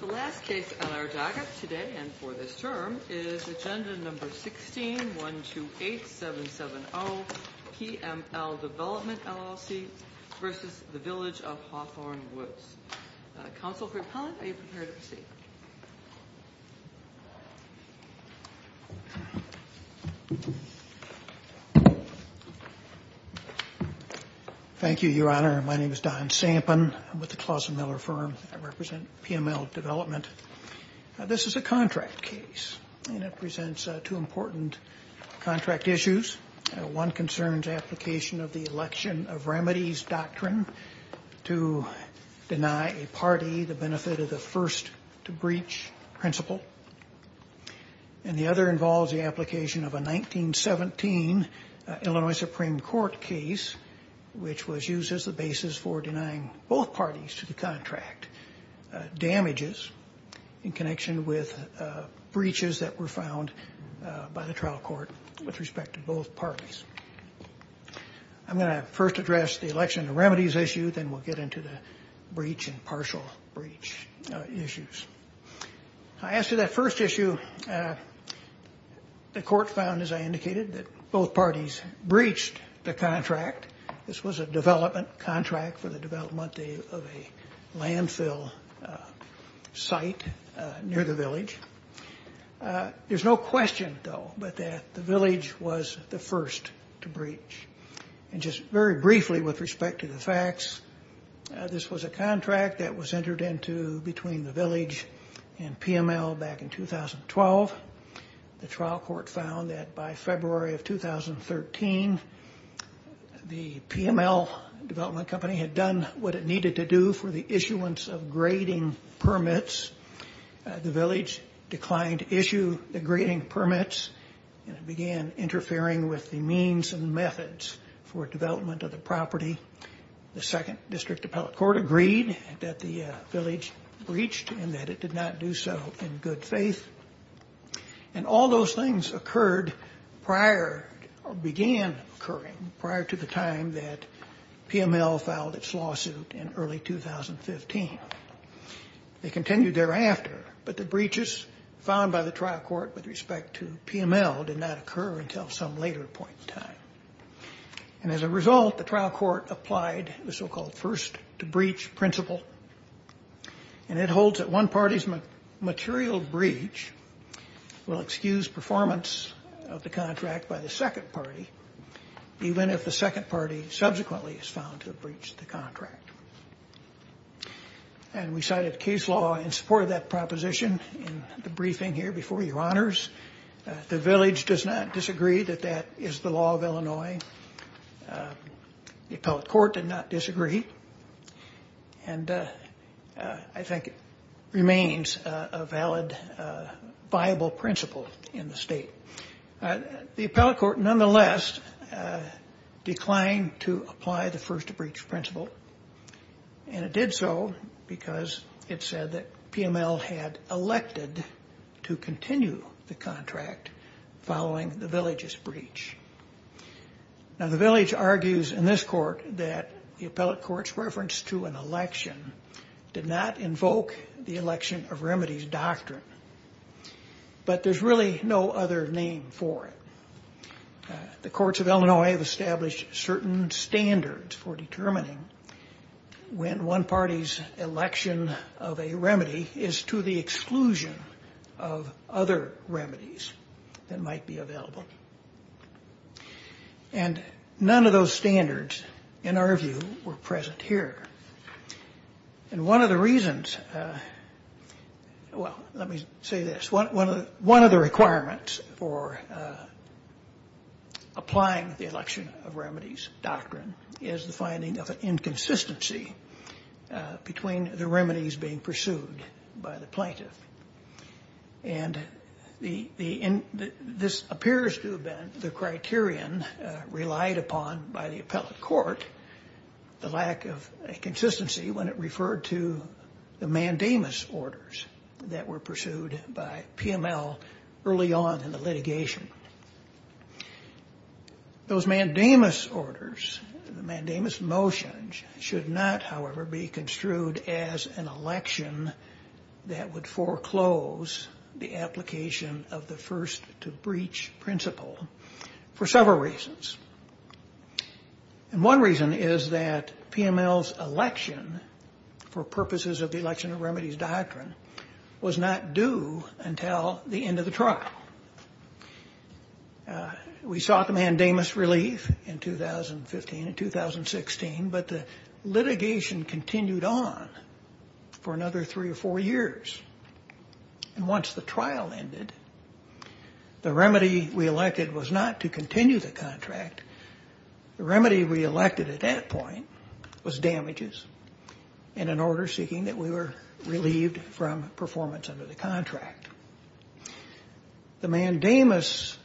The last case on our docket today and for this term is Agenda No. 16-128-770, PML Development LLC v. Village of Hawthorn Woods. Counsel Fried-Pellant, are you prepared to proceed? Thank you, Your Honor. My name is Don Sampin. I'm with the Clausen Miller Firm. I represent PML Development. This is a contract case and it presents two important contract issues. One concerns application of the election of remedies doctrine to deny a party the benefit of the first to breach principle. And the other involves the application of a 1917 Illinois Supreme Court case which was used as the basis for denying both parties to the contract damages in connection with breaches that were found by the trial court with respect to both parties. I'm going to first address the election of remedies issue, then we'll get into the breach and partial breach issues. As to that first issue, the court found as I indicated that both parties breached the contract. This was a development contract for the development of a landfill site near the village. There's no question, though, that the village was the first to breach. And just very briefly with respect to the facts, this was a contract that was entered into between the village and PML back in 2012. The trial court found that by February of 2013, the PML Development Company had done what it needed to do for the issuance of grading permits. The village declined to issue the grading permits and began interfering with the means and methods for development of the property. The second district appellate court agreed that the village breached and that it did not do so in good faith. And all those things occurred prior or began occurring prior to the time that PML filed its lawsuit in early 2015. They continued thereafter, but the breaches found by the trial court with respect to PML did not occur until some later point in time. And as a result, the trial court applied the so-called first to breach principle, and it holds that one party's material breach will excuse performance of the contract by the second party, even if the second party subsequently is found to have breached the contract. And we cited case law in support of that proposition in the briefing here before your honors. The village does not disagree that that is the law of Illinois. The appellate court did not disagree. And I think it remains a valid, viable principle in the state. The appellate court, nonetheless, declined to apply the first to breach principle. And it did so because it said that PML had elected to continue the contract following the village's breach. Now, the village argues in this court that the appellate court's reference to an election did not invoke the election of remedies doctrine. But there's really no other name for it. The courts of Illinois have established certain standards for determining when one party's election of a remedy is to the exclusion of other remedies that might be available. And none of those standards, in our view, were present here. And one of the reasons, well, let me say this. One of the requirements for applying the election of remedies doctrine is the finding of an inconsistency between the remedies being pursued by the plaintiff. And this appears to have been the criterion relied upon by the appellate court, the lack of consistency when it referred to the mandamus orders that were pursued by PML early on in the litigation. Those mandamus orders, the mandamus motions, should not, however, be construed as an election that would foreclose the application of the first to breach principle for several reasons. And one reason is that PML's election, for purposes of the election of remedies doctrine, was not due until the end of the trial. We sought the mandamus relief in 2015 and 2016, but the litigation continued on for another three or four years. And once the trial ended, the remedy we elected was not to continue the contract. The remedy we elected at that point was damages and an order seeking that we were relieved from performance under the contract. The mandamus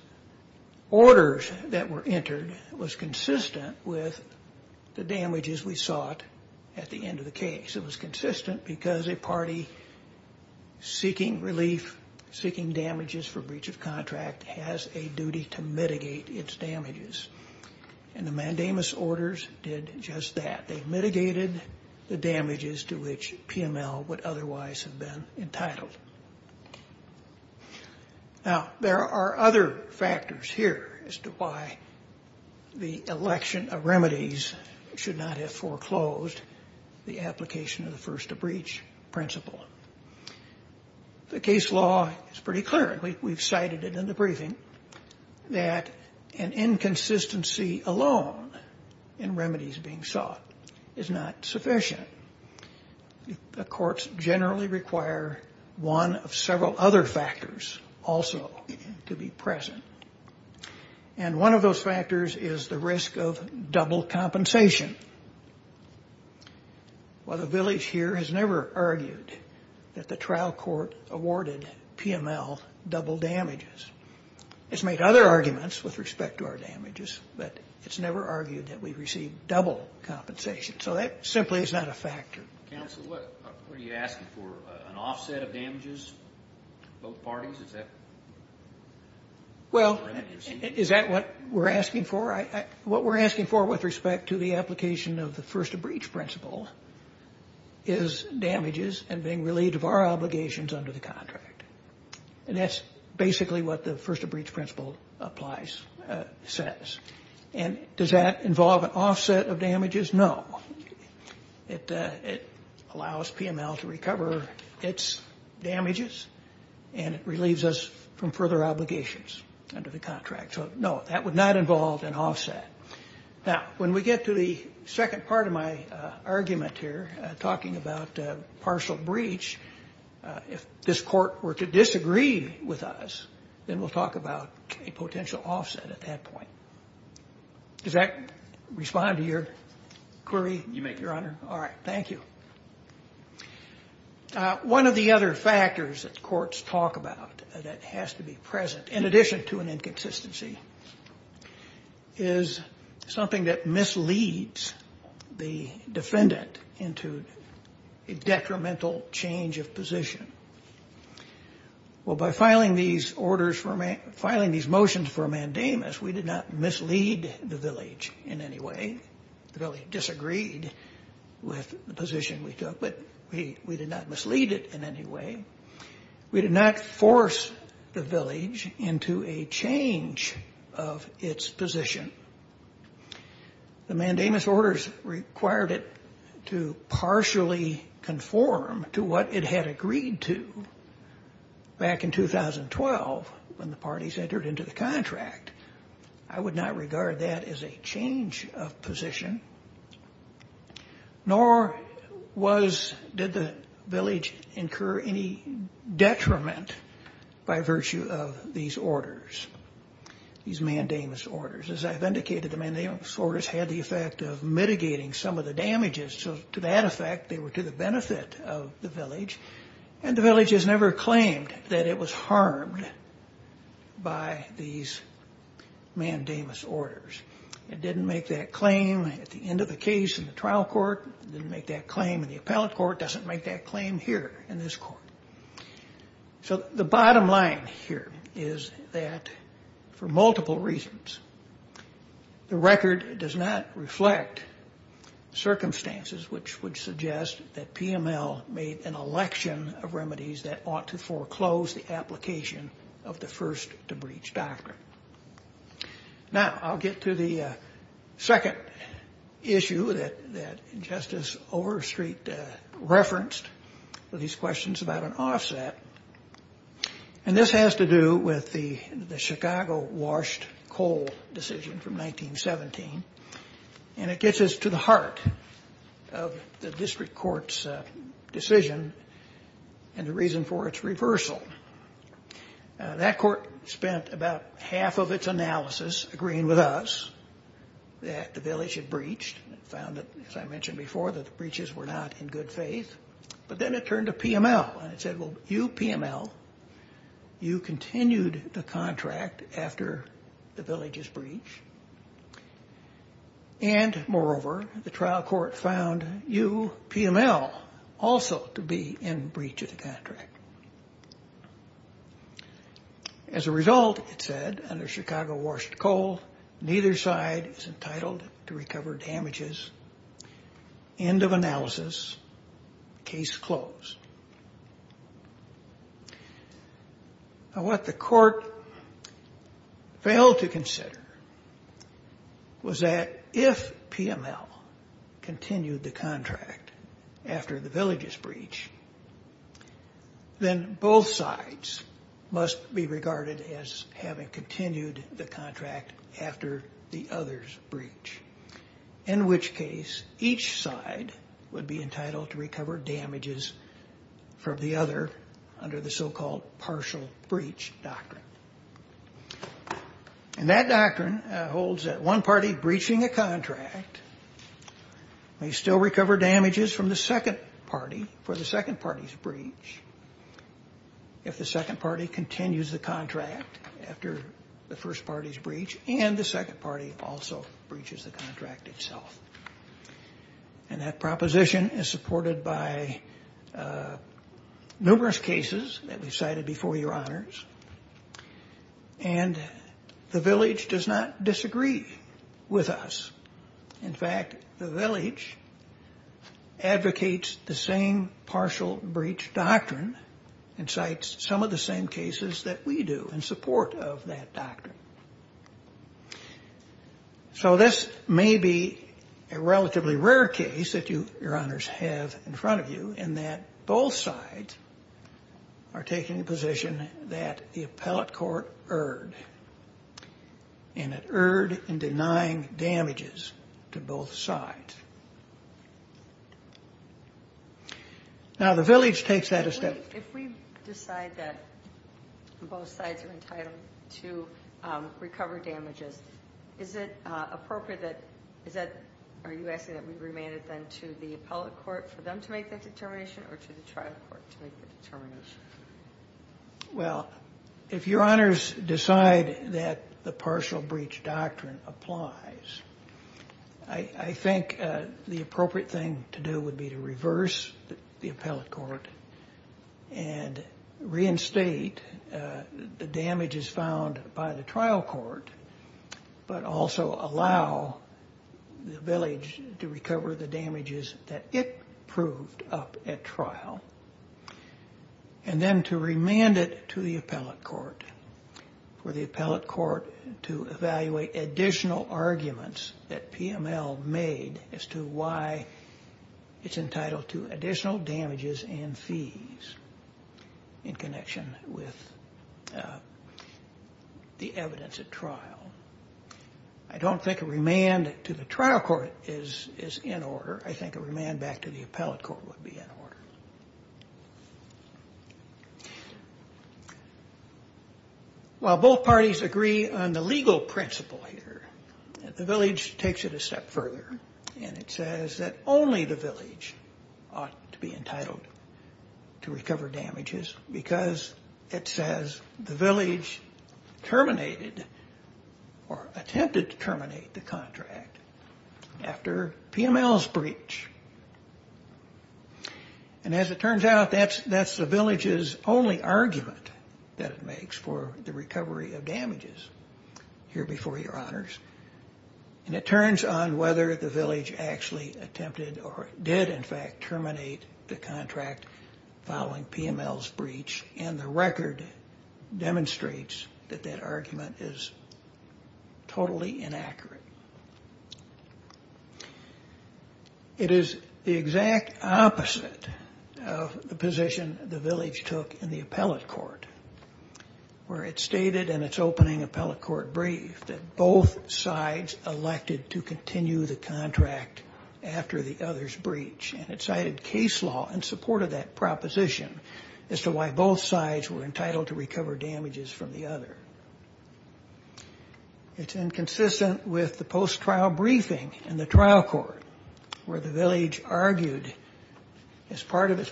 orders that were entered was consistent with the damages we sought at the end of the case. It was consistent because a party seeking relief, seeking damages for breach of contract, has a duty to mitigate its damages. And the mandamus orders did just that. They mitigated the damages to which PML would otherwise have been entitled. Now, there are other factors here as to why the election of remedies should not have foreclosed the application of the first to breach principle. The case law is pretty clear, and we've cited it in the briefing, that an inconsistency alone in remedies being sought is not sufficient. The courts generally require one of several other factors also to be present, and one of those factors is the risk of double compensation. Well, the village here has never argued that the trial court awarded PML double damages. It's made other arguments with respect to our damages, but it's never argued that we've received double compensation, so that simply is not a factor. Counsel, what are you asking for, an offset of damages, both parties? Is that what you're seeking? What we're asking for with respect to the application of the first to breach principle is damages and being relieved of our obligations under the contract. And that's basically what the first to breach principle applies, says. And does that involve an offset of damages? No. It allows PML to recover its damages, and it relieves us from further obligations under the contract. So, no, that would not involve an offset. Now, when we get to the second part of my argument here, talking about partial breach, if this court were to disagree with us, then we'll talk about a potential offset at that point. Does that respond to your query, Your Honor? All right. Thank you. One of the other factors that courts talk about that has to be present, in addition to an inconsistency, is something that misleads the defendant into a detrimental change of position. Well, by filing these orders for, filing these motions for mandamus, we did not mislead the village in any way. The village disagreed with the position we took, but we did not mislead it in any way. We did not force the village into a change of its position. The mandamus orders required it to partially conform to what it had agreed to back in 2012 when the parties entered into the contract. I would not regard that as a change of position, nor did the village incur any detriment by virtue of these orders, these mandamus orders. As I've indicated, the mandamus orders had the effect of mitigating some of the damages. So to that effect, they were to the benefit of the village, and the village has never claimed that it was harmed by these mandamus orders. It didn't make that claim at the end of the case in the trial court. It didn't make that claim in the appellate court. It doesn't make that claim here in this court. So the bottom line here is that for multiple reasons, the record does not reflect circumstances which would suggest that PML made an election of remedies that ought to foreclose the application of the first to breach doctrine. Now, I'll get to the second issue that Justice Overstreet referenced for these questions about an offset. And this has to do with the Chicago washed coal decision from 1917. And it gets us to the heart of the district court's decision and the reason for its reversal. That court spent about half of its analysis agreeing with us that the village had breached. It found that, as I mentioned before, that the breaches were not in good faith. But then it turned to PML, and it said, well, you, PML, you continued the contract after the village's breach. And, moreover, the trial court found you, PML, also to be in breach of the contract. As a result, it said, under Chicago washed coal, neither side is entitled to recover damages. End of analysis. Case closed. Now, what the court failed to consider was that if PML continued the contract after the village's breach, then both sides must be regarded as having continued the contract after the other's breach. In which case, each side would be entitled to recover damages from the other under the so-called partial breach doctrine. And that doctrine holds that one party breaching a contract may still recover damages from the second party for the second party's breach. If the second party continues the contract after the first party's breach, and the second party also breaches the contract itself. And that proposition is supported by numerous cases that we've cited before your honors. And the village does not disagree with us. In fact, the village advocates the same partial breach doctrine and cites some of the same cases that we do in support of that doctrine. So this may be a relatively rare case that you, your honors, have in front of you in that both sides are taking a position that the appellate court erred. And it erred in denying damages to both sides. Now, the village takes that a step further. If we decide that both sides are entitled to recover damages, is it appropriate that, are you asking that we remain it then to the appellate court for them to make that determination or to the trial court to make the determination? Well, if your honors decide that the partial breach doctrine applies, I think the appropriate thing to do would be to reverse the appellate court and reinstate the damages found by the trial court. But also allow the village to recover the damages that it proved up at trial. And then to remand it to the appellate court for the appellate court to evaluate additional arguments that PML made as to why it's entitled to additional damages and fees in connection with the evidence at trial. I don't think a remand to the trial court is in order. I think a remand back to the appellate court would be in order. While both parties agree on the legal principle here, the village takes it a step further. And it says that only the village ought to be entitled to recover damages because it says the village terminated or attempted to terminate the contract after PML's breach. And as it turns out, that's the village's only argument that it makes for the recovery of damages here before your honors. And it turns on whether the village actually attempted or did in fact terminate the contract following PML's breach. And the record demonstrates that that argument is totally inaccurate. It is the exact opposite of the position the village took in the appellate court where it stated in its opening appellate court brief that both sides elected to continue the contract after the other's breach. And it cited case law in support of that proposition as to why both sides were entitled to recover damages from the other. It's inconsistent with the post-trial briefing in the trial court where the village argued as part of its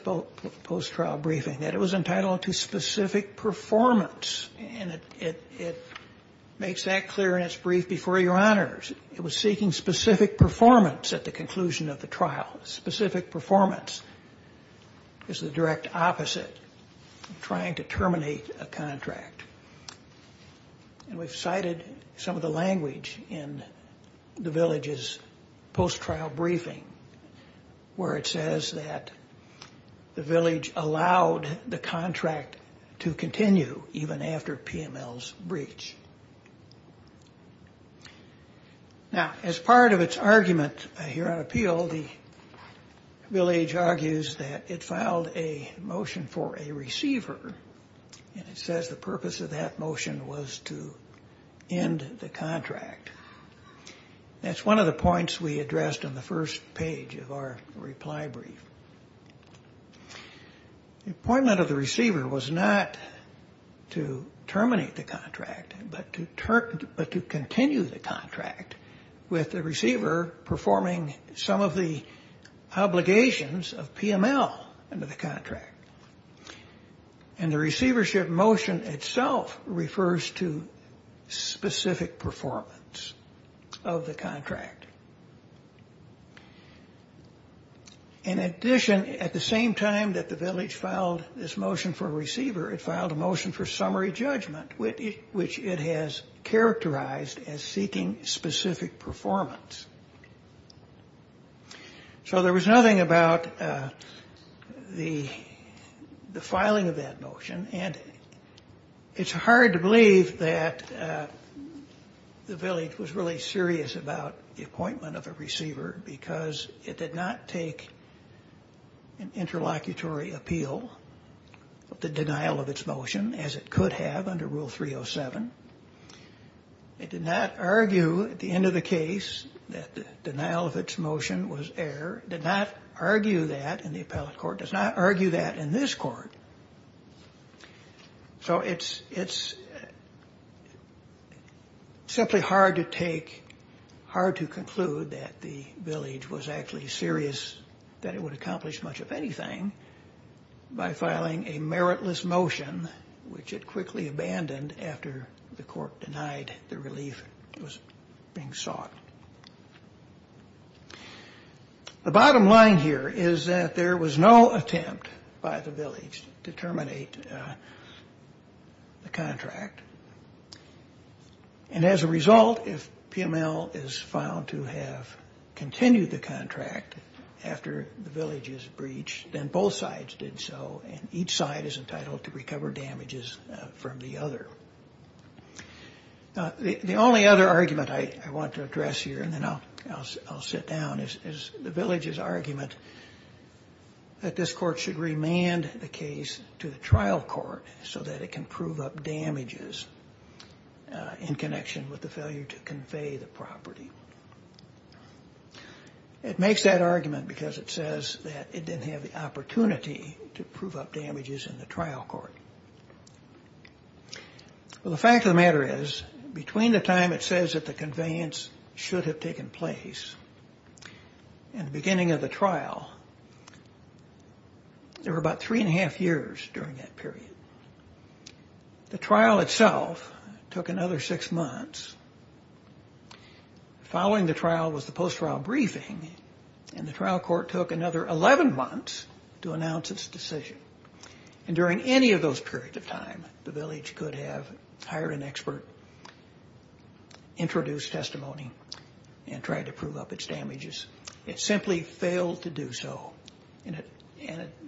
post-trial briefing that it was entitled to specific performance. And it makes that clear in its brief before your honors. It was seeking specific performance at the conclusion of the trial. Specific performance is the direct opposite of trying to terminate a contract. And we've cited some of the language in the village's post-trial briefing where it says that the village allowed the contract to continue even after PML's breach. Now as part of its argument here on appeal, the village argues that it filed a motion for a receiver. And it says the purpose of that motion was to end the contract. That's one of the points we addressed on the first page of our reply brief. The appointment of the receiver was not to terminate the contract but to continue the contract with the receiver performing some of the obligations of PML under the contract. And the receivership motion itself refers to specific performance of the contract. In addition, at the same time that the village filed this motion for a receiver, it filed a motion for summary judgment which it has characterized as seeking specific performance. So there was nothing about the filing of that motion. And it's hard to believe that the village was really serious about the appointment of a receiver because it did not take an interlocutory appeal of the denial of its motion as it could have under Rule 307. It did not argue at the end of the case that the denial of its motion was error. It did not argue that in the appellate court. It does not argue that in this court. So it's simply hard to take, hard to conclude that the village was actually serious that it would accomplish much of anything by filing a meritless motion which it quickly abandoned after the court denied the relief was being sought. The bottom line here is that there was no attempt by the village to terminate the contract. And as a result, if PML is found to have continued the contract after the village's breach, then both sides did so and each side is entitled to recover damages from the other. The only other argument I want to address here, and then I'll sit down, is the village's argument that this court should remand the case to the trial court so that it can prove up damages in connection with the failure to convey the property. It makes that argument because it says that it didn't have the opportunity to prove up damages in the trial court. Well, the fact of the matter is, between the time it says that the conveyance should have taken place and the beginning of the trial, there were about three and a half years during that period. The trial itself took another six months. Following the trial was the post-trial briefing, and the trial court took another 11 months to announce its decision. And during any of those periods of time, the village could have hired an expert, introduced testimony, and tried to prove up its damages. It simply failed to do so, and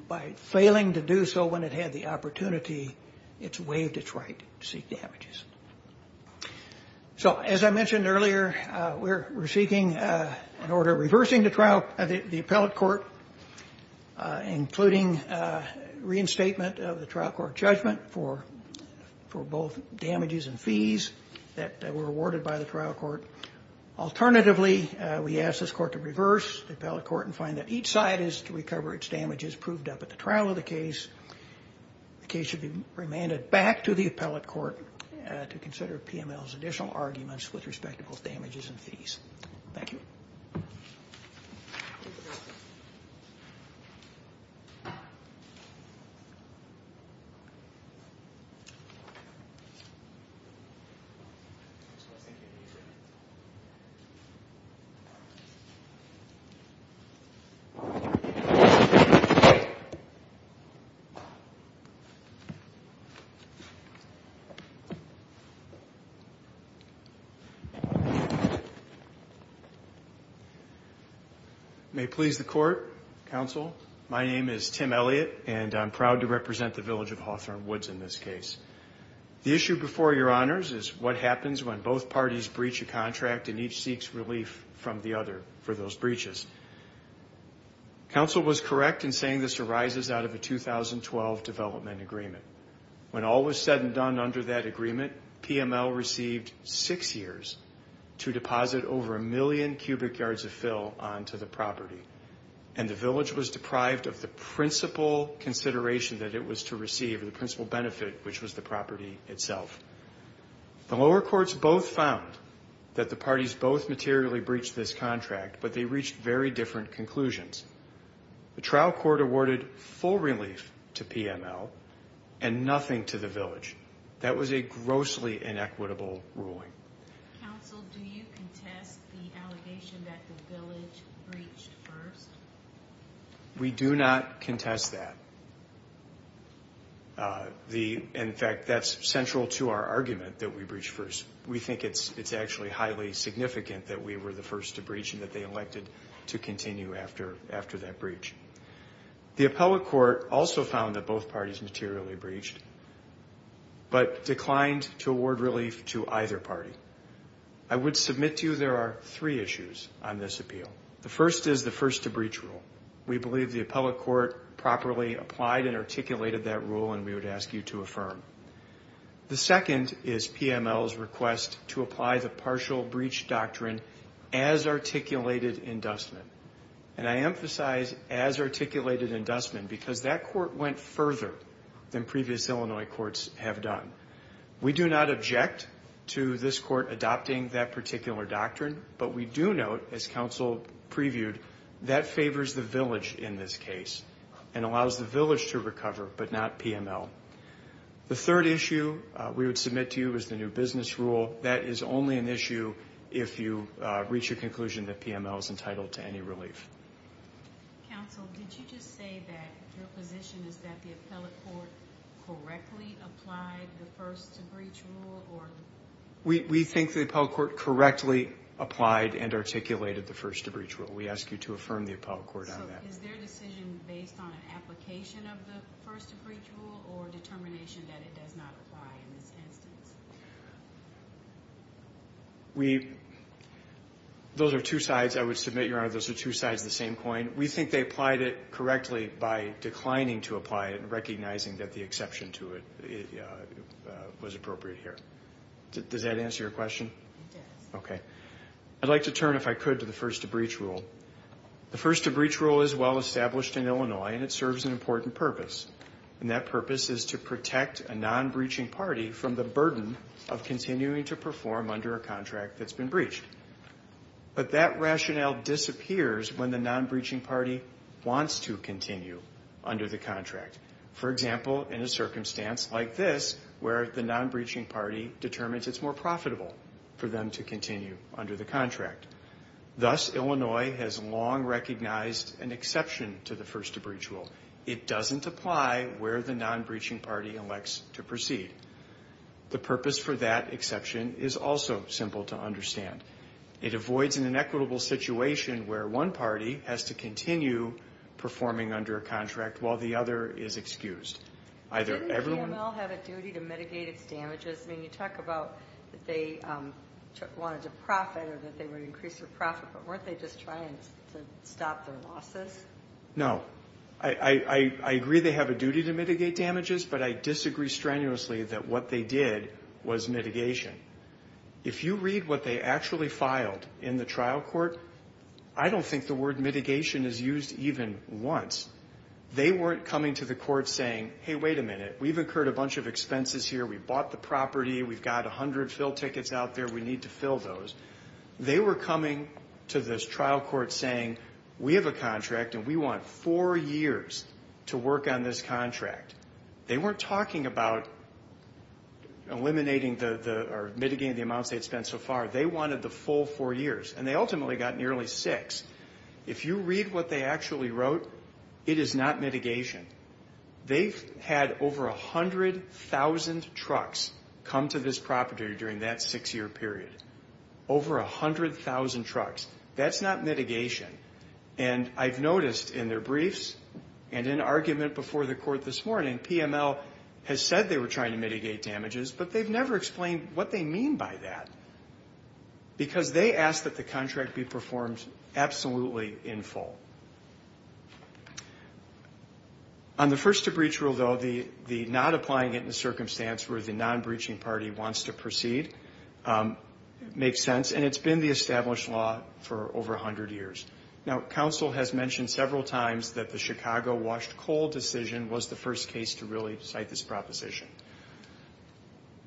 by failing to do so when it had the opportunity, it's waived its right to seek damages. So as I mentioned earlier, we're seeking an order reversing the appellate court, including reinstatement of the trial court judgment for both damages and fees that were awarded by the trial court. Alternatively, we ask this court to reverse the appellate court and find that each side is to recover its damages proved up at the trial of the case. The case should be remanded back to the appellate court to consider PML's additional arguments with respect to both damages and fees. Thank you. May it please the court, counsel, my name is Tim Elliott, and I'm proud to represent the village of Hawthorne Woods in this case. The issue before your honors is what happens when both parties breach a contract and each seeks relief from the other for those breaches. Counsel was correct in saying this arises out of a 2012 development agreement. When all was said and done under that agreement, PML received six years to deposit over a million cubic yards of fill onto the property, and the village was deprived of the principal consideration that it was to receive, the principal benefit, which was the property itself. The lower courts both found that the parties both materially breached this contract, but they reached very different conclusions. The trial court awarded full relief to PML and nothing to the village. That was a grossly inequitable ruling. Counsel, do you contest the allegation that the village breached first? We do not contest that. In fact, that's central to our argument that we breached first. We think it's actually highly significant that we were the first to breach and that they elected to continue after that breach. The appellate court also found that both parties materially breached, but declined to award relief to either party. I would submit to you there are three issues on this appeal. The first is the first-to-breach rule. We believe the appellate court properly applied and articulated that rule, and we would ask you to affirm. The second is PML's request to apply the partial breach doctrine as articulated in Dussman. And I emphasize as articulated in Dussman because that court went further than previous Illinois courts have done. We do not object to this court adopting that particular doctrine, but we do note, as counsel previewed, that favors the village in this case and allows the village to recover, but not PML. The third issue we would submit to you is the new business rule. That is only an issue if you reach a conclusion that PML is entitled to any relief. Counsel, did you just say that your position is that the appellate court correctly applied the first-to-breach rule? We think the appellate court correctly applied and articulated the first-to-breach rule. We ask you to affirm the appellate court on that. So is their decision based on an application of the first-to-breach rule or determination that it does not apply in this instance? Those are two sides I would submit, Your Honor. Those are two sides of the same coin. We think they applied it correctly by declining to apply it and recognizing that the exception to it was appropriate here. Does that answer your question? Yes. Okay. I'd like to turn, if I could, to the first-to-breach rule. The first-to-breach rule is well established in Illinois and it serves an important purpose. And that purpose is to protect a non-breaching party from the burden of continuing to perform under a contract that's been breached. But that rationale disappears when the non-breaching party wants to continue under the contract. For example, in a circumstance like this where the non-breaching party determines it's more profitable for them to continue under the contract. Thus, Illinois has long recognized an exception to the first-to-breach rule. It doesn't apply where the non-breaching party elects to proceed. The purpose for that exception is also simple to understand. It avoids an inequitable situation where one party has to continue performing under a contract while the other is excused. Didn't the GML have a duty to mitigate its damages? I mean, you talk about that they wanted to profit or that they would increase their profit, but weren't they just trying to stop their losses? No. I agree they have a duty to mitigate damages, but I disagree strenuously that what they did was mitigation. If you read what they actually filed in the trial court, I don't think the word mitigation is used even once. They weren't coming to the court saying, hey, wait a minute, we've incurred a bunch of expenses here, we bought the property, we've got 100 fill tickets out there, we need to fill those. They were coming to this trial court saying, we have a contract and we want four years to work on this contract. They weren't talking about eliminating or mitigating the amounts they had spent so far. They wanted the full four years, and they ultimately got nearly six. If you read what they actually wrote, it is not mitigation. They had over 100,000 trucks come to this property during that six-year period. Over 100,000 trucks. That's not mitigation. And I've noticed in their briefs and in argument before the court this morning, PML has said they were trying to mitigate damages, but they've never explained what they mean by that. Because they asked that the contract be performed absolutely in full. On the first-to-breach rule, though, the not applying it in a circumstance where the non-breaching party wants to proceed makes sense, and it's been the established law for over 100 years. Now, counsel has mentioned several times that the Chicago washed coal decision was the first case to really cite this proposition.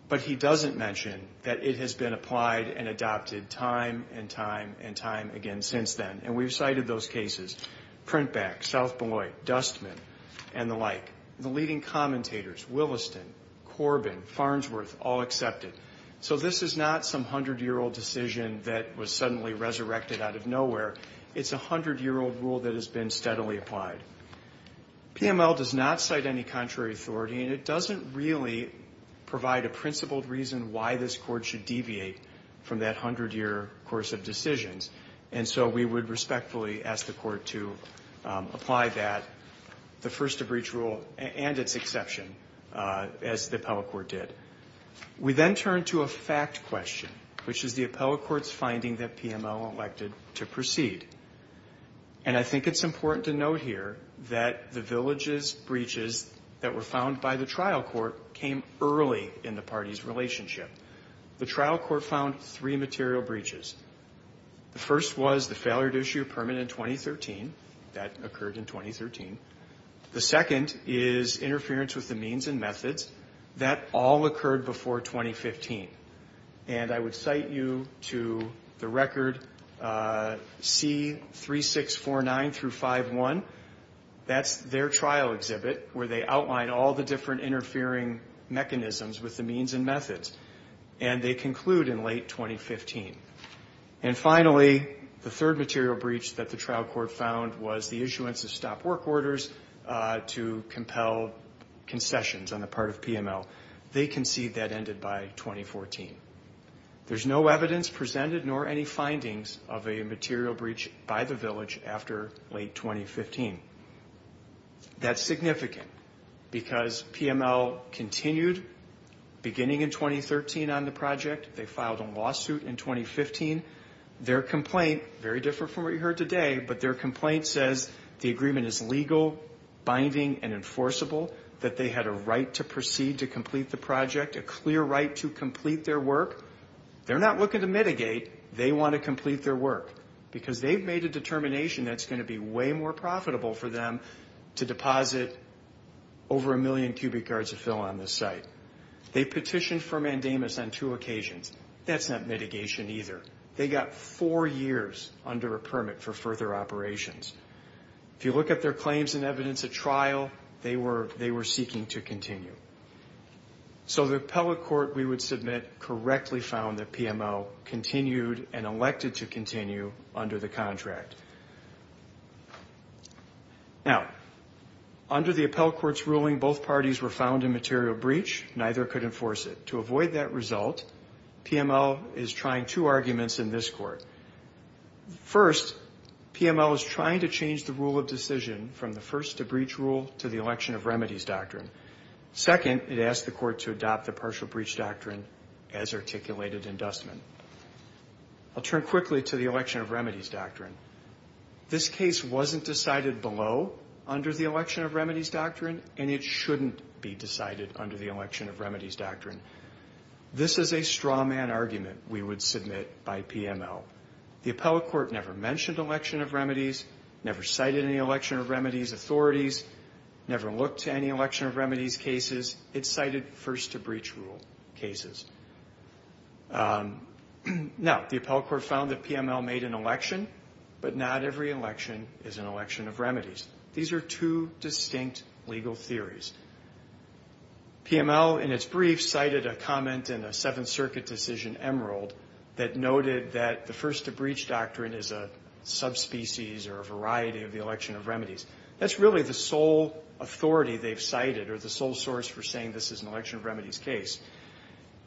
But he doesn't mention that it has been applied and adopted time and time and time again since then. And we've cited those cases. Printback, South Beloit, Dustman, and the like. The leading commentators, Williston, Corbin, Farnsworth, all accept it. So this is not some 100-year-old decision that was suddenly resurrected out of nowhere. It's a 100-year-old rule that has been steadily applied. PML does not cite any contrary authority, and it doesn't really provide a principled reason why this court should deviate from that 100-year course of decisions. And so we would respectfully ask the court to apply that, the first-to-breach rule and its exception, as the appellate court did. We then turn to a fact question, which is the appellate court's finding that PML elected to proceed. And I think it's important to note here that the villages breaches that were found by the trial court came early in the party's relationship. The trial court found three material breaches. The first was the failure to issue a permit in 2013. That occurred in 2013. The second is interference with the means and methods. That all occurred before 2015. And I would cite you to the record C3649-51. That's their trial exhibit, where they outline all the different interfering mechanisms with the means and methods. And they conclude in late 2015. And finally, the third material breach that the trial court found was the issuance of stop work orders to compel concessions on the part of PML. They concede that ended by 2014. There's no evidence presented nor any findings of a material breach by the village after late 2015. That's significant because PML continued beginning in 2013 on the project. They filed a lawsuit in 2015. Their complaint, very different from what you heard today, but their complaint says the agreement is legal, binding, and enforceable. That they had a right to proceed to complete the project. A clear right to complete their work. They're not looking to mitigate. They want to complete their work. Because they've made a determination that's going to be way more profitable for them to deposit over a million cubic yards of fill on this site. They petitioned for mandamus on two occasions. That's not mitigation either. They got four years under a permit for further operations. If you look at their claims and evidence at trial, they were seeking to continue. So the appellate court, we would submit, correctly found that PML continued and elected to continue under the contract. Now, under the appellate court's ruling, both parties were found in material breach. Neither could enforce it. To avoid that result, PML is trying two arguments in this court. First, PML is trying to change the rule of decision from the first to breach rule to the election of remedies doctrine. Second, it asked the court to adopt the partial breach doctrine as articulated in Dustman. I'll turn quickly to the election of remedies doctrine. This case wasn't decided below under the election of remedies doctrine, and it shouldn't be decided under the election of remedies doctrine. This is a straw man argument we would submit by PML. The appellate court never mentioned election of remedies, never cited any election of remedies authorities, never looked to any election of remedies cases. It cited first to breach rule cases. Now, the appellate court found that PML made an election, but not every election is an election of remedies. These are two distinct legal theories. PML, in its brief, cited a comment in a Seventh Circuit decision, Emerald, that noted that the first to breach doctrine is a subspecies or a variety of the election of remedies. That's really the sole authority they've cited or the sole source for saying this is an election of remedies case.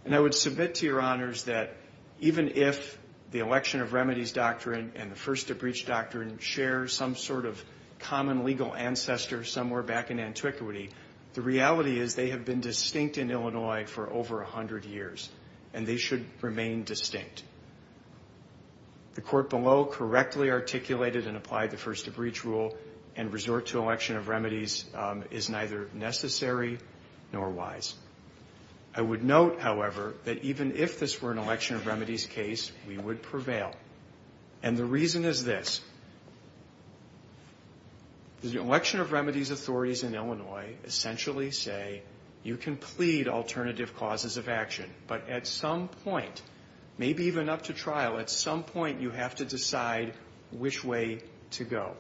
And I would submit to your honors that even if the election of remedies doctrine and the first to breach doctrine share some sort of common legal ancestor somewhere back in antiquity, the reality is they have been distinct in Illinois for over 100 years, and they should remain distinct. The court below correctly articulated and applied the first to breach rule and resort to election of remedies is neither necessary nor wise. I would note, however, that even if this were an election of remedies case, we would prevail. And the reason is this. The election of remedies authorities in Illinois essentially say you can plead alternative causes of action, but at some point, maybe even up to trial, at some point you have to decide which way to go.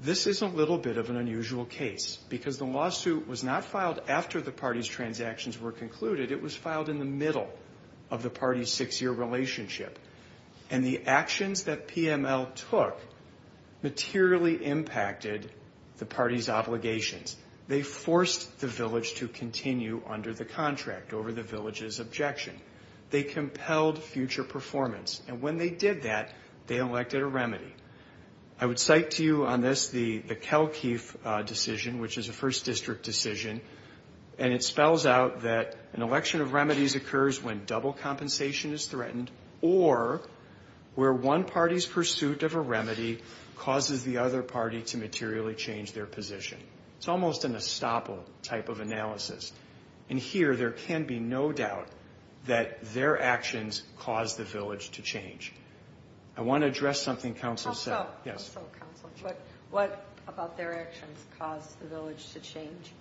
This is a little bit of an unusual case because the lawsuit was not filed after the party's transactions were concluded. It was filed in the middle of the party's six-year relationship. And the actions that PML took materially impacted the party's obligations. They forced the village to continue under the contract over the village's objection. They compelled future performance. And when they did that, they elected a remedy. I would cite to you on this the Kelkief decision, which is a first district decision. And it spells out that an election of remedies occurs when double compensation is threatened or where one party's pursuit of a remedy causes the other party to materially change their position. It's almost an estoppel type of analysis. And here, there can be no doubt that their actions caused the village to change. I want to address something counsel said. So counsel, what about their actions caused the village to change?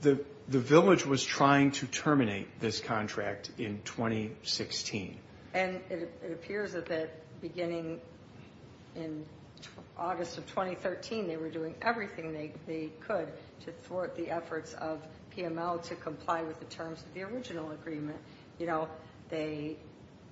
The village was trying to terminate this contract in 2016. And it appears that beginning in August of 2013, they were doing everything they could to thwart the efforts of PML to comply with the terms of the original agreement. You know, they,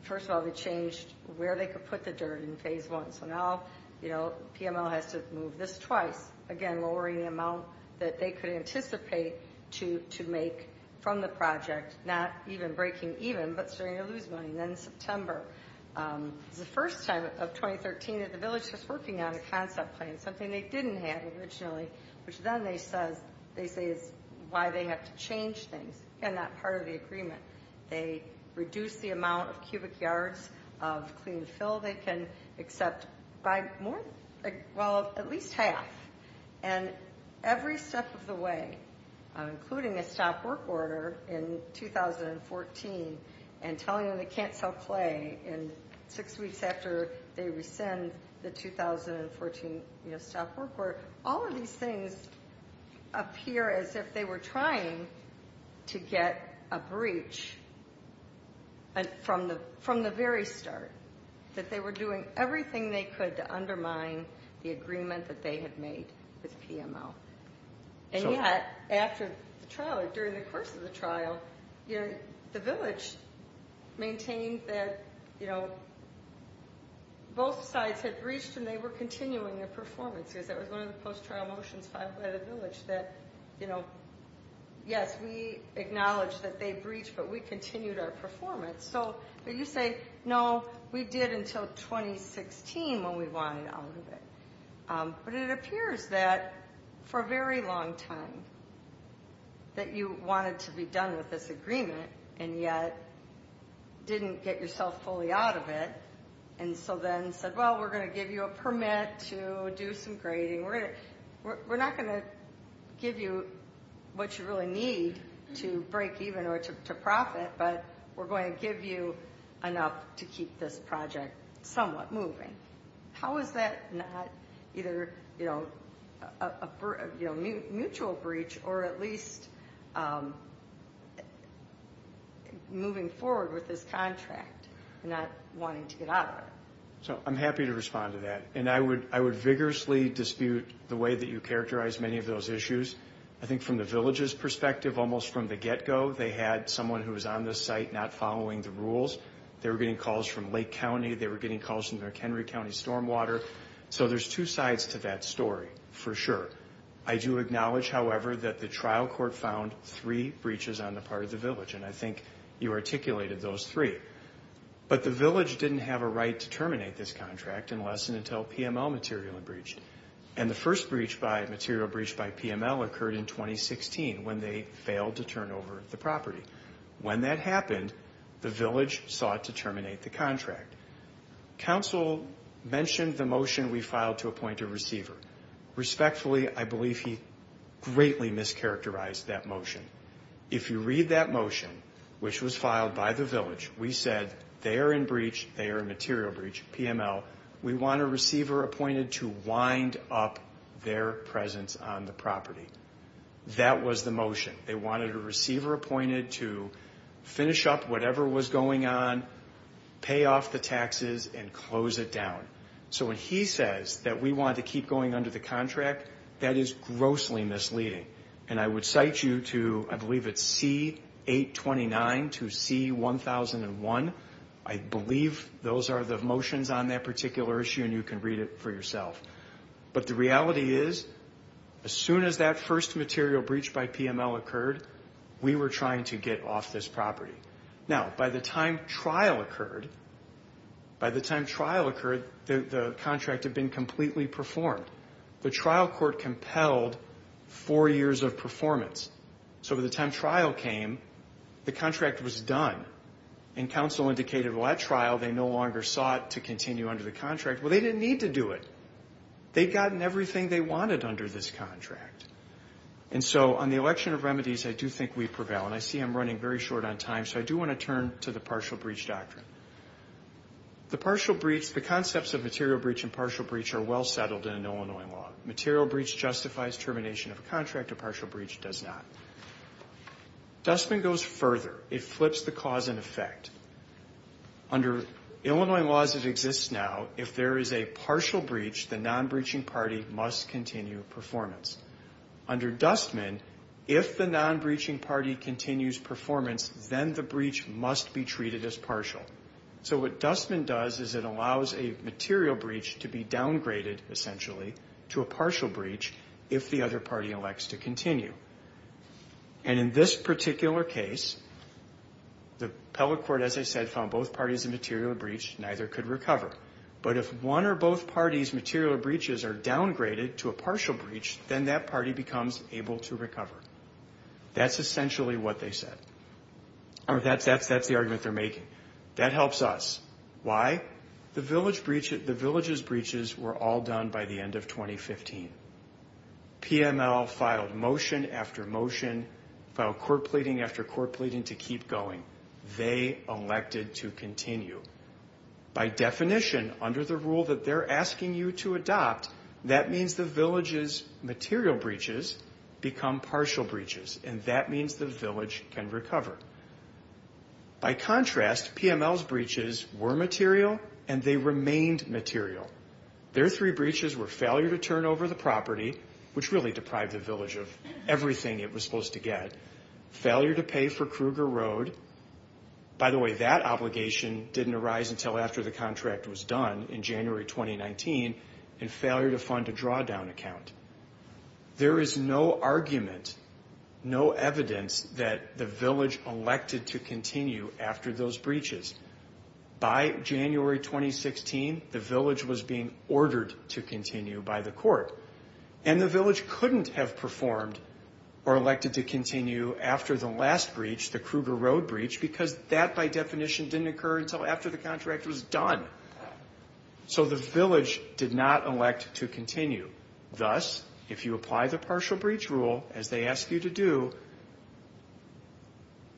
first of all, they changed where they could put the dirt in phase one. So now, you know, PML has to move this twice. Again, lowering the amount that they could anticipate to make from the project, not even breaking even, but starting to lose money. And then in September, it was the first time of 2013 that the village was working on a concept plan, something they didn't have originally, which then they say is why they had to change things. And that part of the agreement, they reduced the amount of cubic yards of clean fill they can accept by more, well, at least half. And every step of the way, including a stop work order in 2014, and telling them they can't sell clay, and six weeks after they rescind the 2014 stop work order, all of these things appear as if they were trying to get a breach from the very start, that they were doing everything they could to undermine the agreement that they had made with PML. And yet, after the trial, or during the course of the trial, the village maintained that, you know, both sides had breached and they were continuing their performance. Because that was one of the post-trial motions filed by the village that, you know, yes, we acknowledge that they breached, but we continued our performance. So you say, no, we did until 2016 when we wanted out of it. But it appears that for a very long time that you wanted to be done with this agreement, and yet didn't get yourself fully out of it. And so then said, well, we're going to give you a permit to do some grading. We're not going to give you what you really need to break even or to profit, but we're going to give you enough to keep this project somewhat moving. How is that not either, you know, a mutual breach or at least moving forward with this contract and not wanting to get out of it? So I'm happy to respond to that. And I would vigorously dispute the way that you characterize many of those issues. I think from the village's perspective, almost from the get-go, they had someone who was on the site not following the rules. They were getting calls from Lake County. They were getting calls from McHenry County stormwater. So there's two sides to that story, for sure. I do acknowledge, however, that the trial court found three breaches on the part of the village. And I think you articulated those three. But the village didn't have a right to terminate this contract unless and until PML materially breached. And the first material breach by PML occurred in 2016 when they failed to turn over the property. When that happened, the village sought to terminate the contract. Council mentioned the motion we filed to appoint a receiver. Respectfully, I believe he greatly mischaracterized that motion. If you read that motion, which was filed by the village, we said they are in breach, they are in material breach, PML. We want a receiver appointed to wind up their presence on the property. That was the motion. They wanted a receiver appointed to finish up whatever was going on, pay off the taxes, and close it down. So when he says that we want to keep going under the contract, that is grossly misleading. And I would cite you to, I believe it's C-829 to C-1001. I believe those are the motions on that particular issue, and you can read it for yourself. But the reality is, as soon as that first material breach by PML occurred, we were trying to get off this property. Now, by the time trial occurred, by the time trial occurred, the contract had been completely performed. The trial court compelled four years of performance. So by the time trial came, the contract was done. And council indicated, well, at trial, they no longer sought to continue under the contract. Well, they didn't need to do it. They'd gotten everything they wanted under this contract. And so on the election of remedies, I do think we prevail. And I see I'm running very short on time, so I do want to turn to the partial breach doctrine. The partial breach, the concepts of material breach and partial breach are well settled in an Illinois law. Material breach justifies termination of a contract. A partial breach does not. Dustman goes further. It flips the cause and effect. Under Illinois laws that exist now, if there is a partial breach, the non-breaching party must continue performance. Under Dustman, if the non-breaching party continues performance, then the breach must be treated as partial. So what Dustman does is it allows a material breach to be downgraded, essentially, to a partial breach if the other party elects to continue. And in this particular case, the appellate court, as I said, found both parties a material breach, neither could recover. But if one or both parties' material breaches are downgraded to a partial breach, then that party becomes able to recover. That's essentially what they said. That's the argument they're making. That helps us. Why? The village's breaches were all done by the end of 2015. PML filed motion after motion, filed court pleading after court pleading to keep going. They elected to continue. By definition, under the rule that they're asking you to adopt, that means the village's material breaches become partial breaches. And that means the village can recover. By contrast, PML's breaches were material, and they remained material. Their three breaches were failure to turn over the property, which really deprived the village of everything it was supposed to get, failure to pay for Kruger Road. By the way, that obligation didn't arise until after the contract was done in January 2019, and failure to fund a drawdown account. There is no argument, no evidence that the village elected to continue after those breaches. By January 2016, the village was being ordered to continue by the court. And the village couldn't have performed or elected to continue after the last breach, the Kruger Road breach, because that, by definition, didn't occur until after the contract was done. So the village did not elect to continue. Thus, if you apply the partial breach rule, as they ask you to do,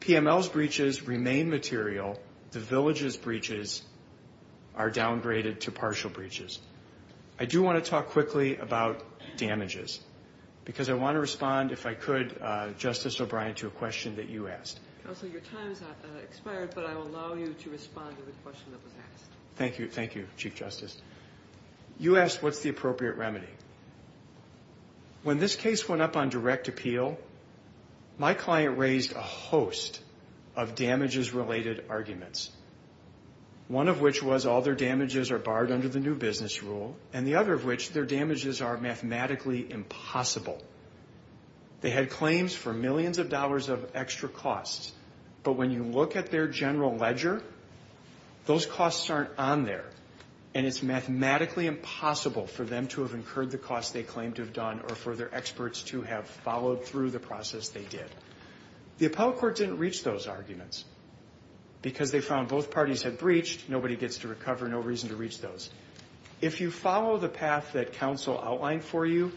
PML's breaches remain material. The village's breaches are downgraded to partial breaches. I do want to talk quickly about damages, because I want to respond, if I could, Justice O'Brien, to a question that you asked. Counsel, your time has expired, but I will allow you to respond to the question that was asked. Thank you. Thank you, Chief Justice. You asked what's the appropriate remedy. When this case went up on direct appeal, my client raised a host of damages-related arguments, one of which was all their damages are barred under the new business rule, and the other of which, their damages are mathematically impossible. They had claims for millions of dollars of extra costs, but when you look at their general ledger, those costs aren't on there, and it's mathematically impossible for them to have incurred the costs they claim to have done or for their experts to have followed through the process they did. The appellate court didn't reach those arguments, because they found both parties had breached, nobody gets to recover, no reason to reach those. If you follow the path that counsel outlined for you,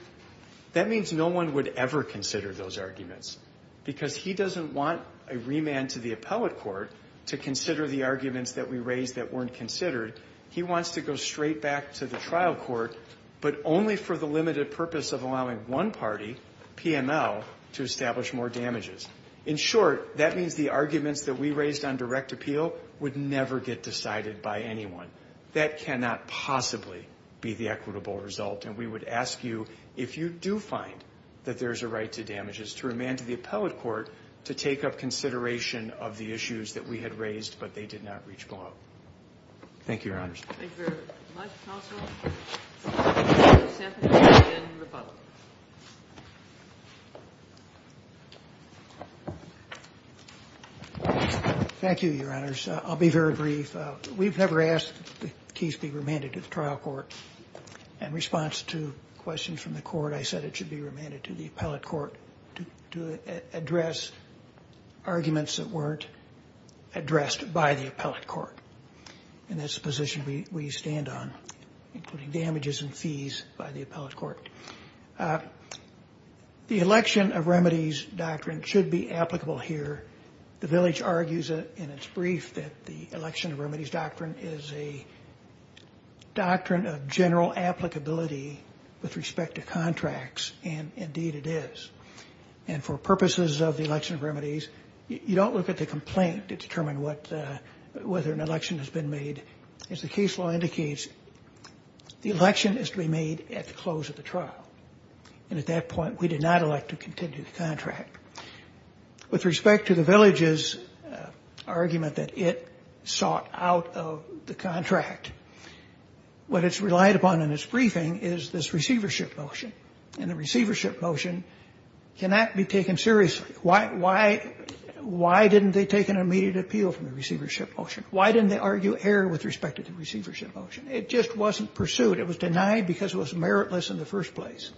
that means no one would ever consider those arguments, because he doesn't want a remand to the appellate court to consider the arguments that we raised that weren't considered. He wants to go straight back to the trial court, but only for the limited purpose of allowing one party, PML, to establish more damages. In short, that means the arguments that we raised on direct appeal would never get decided by anyone. That cannot possibly be the equitable result, and we would ask you, if you do find that there's a right to damages, to remand to the appellate court to take up consideration of the issues that we had raised, but they did not reach below. Thank you, Your Honors. Thank you very much, counsel. Judge Sanford, you may begin rebuttal. Thank you, Your Honors. I'll be very brief. We've never asked that the case be remanded to the trial court. In response to questions from the court, I said it should be remanded to the appellate court to address arguments that weren't addressed by the appellate court. And that's the position we stand on, including damages and fees by the appellate court. The election of remedies doctrine should be applicable here. The village argues in its brief that the election of remedies doctrine is a doctrine of general applicability with respect to contracts, and indeed it is. And for purposes of the election of remedies, you don't look at the complaint to determine whether an election has been made. As the case law indicates, the election is to be made at the close of the trial. And at that point, we did not elect to continue the contract. With respect to the village's argument that it sought out of the contract, what it's relied upon in its briefing is this receivership motion. And the receivership motion cannot be taken seriously. Why didn't they take an immediate appeal from the receivership motion? Why didn't they argue error with respect to the receivership motion? It just wasn't pursued. It was denied because it was meritless in the first place.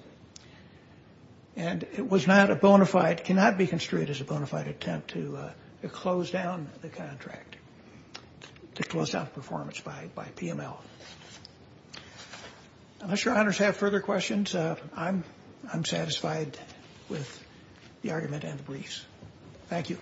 And it was not a bona fide, cannot be construed as a bona fide attempt to close down the contract, to close out performance by PML. Thank you.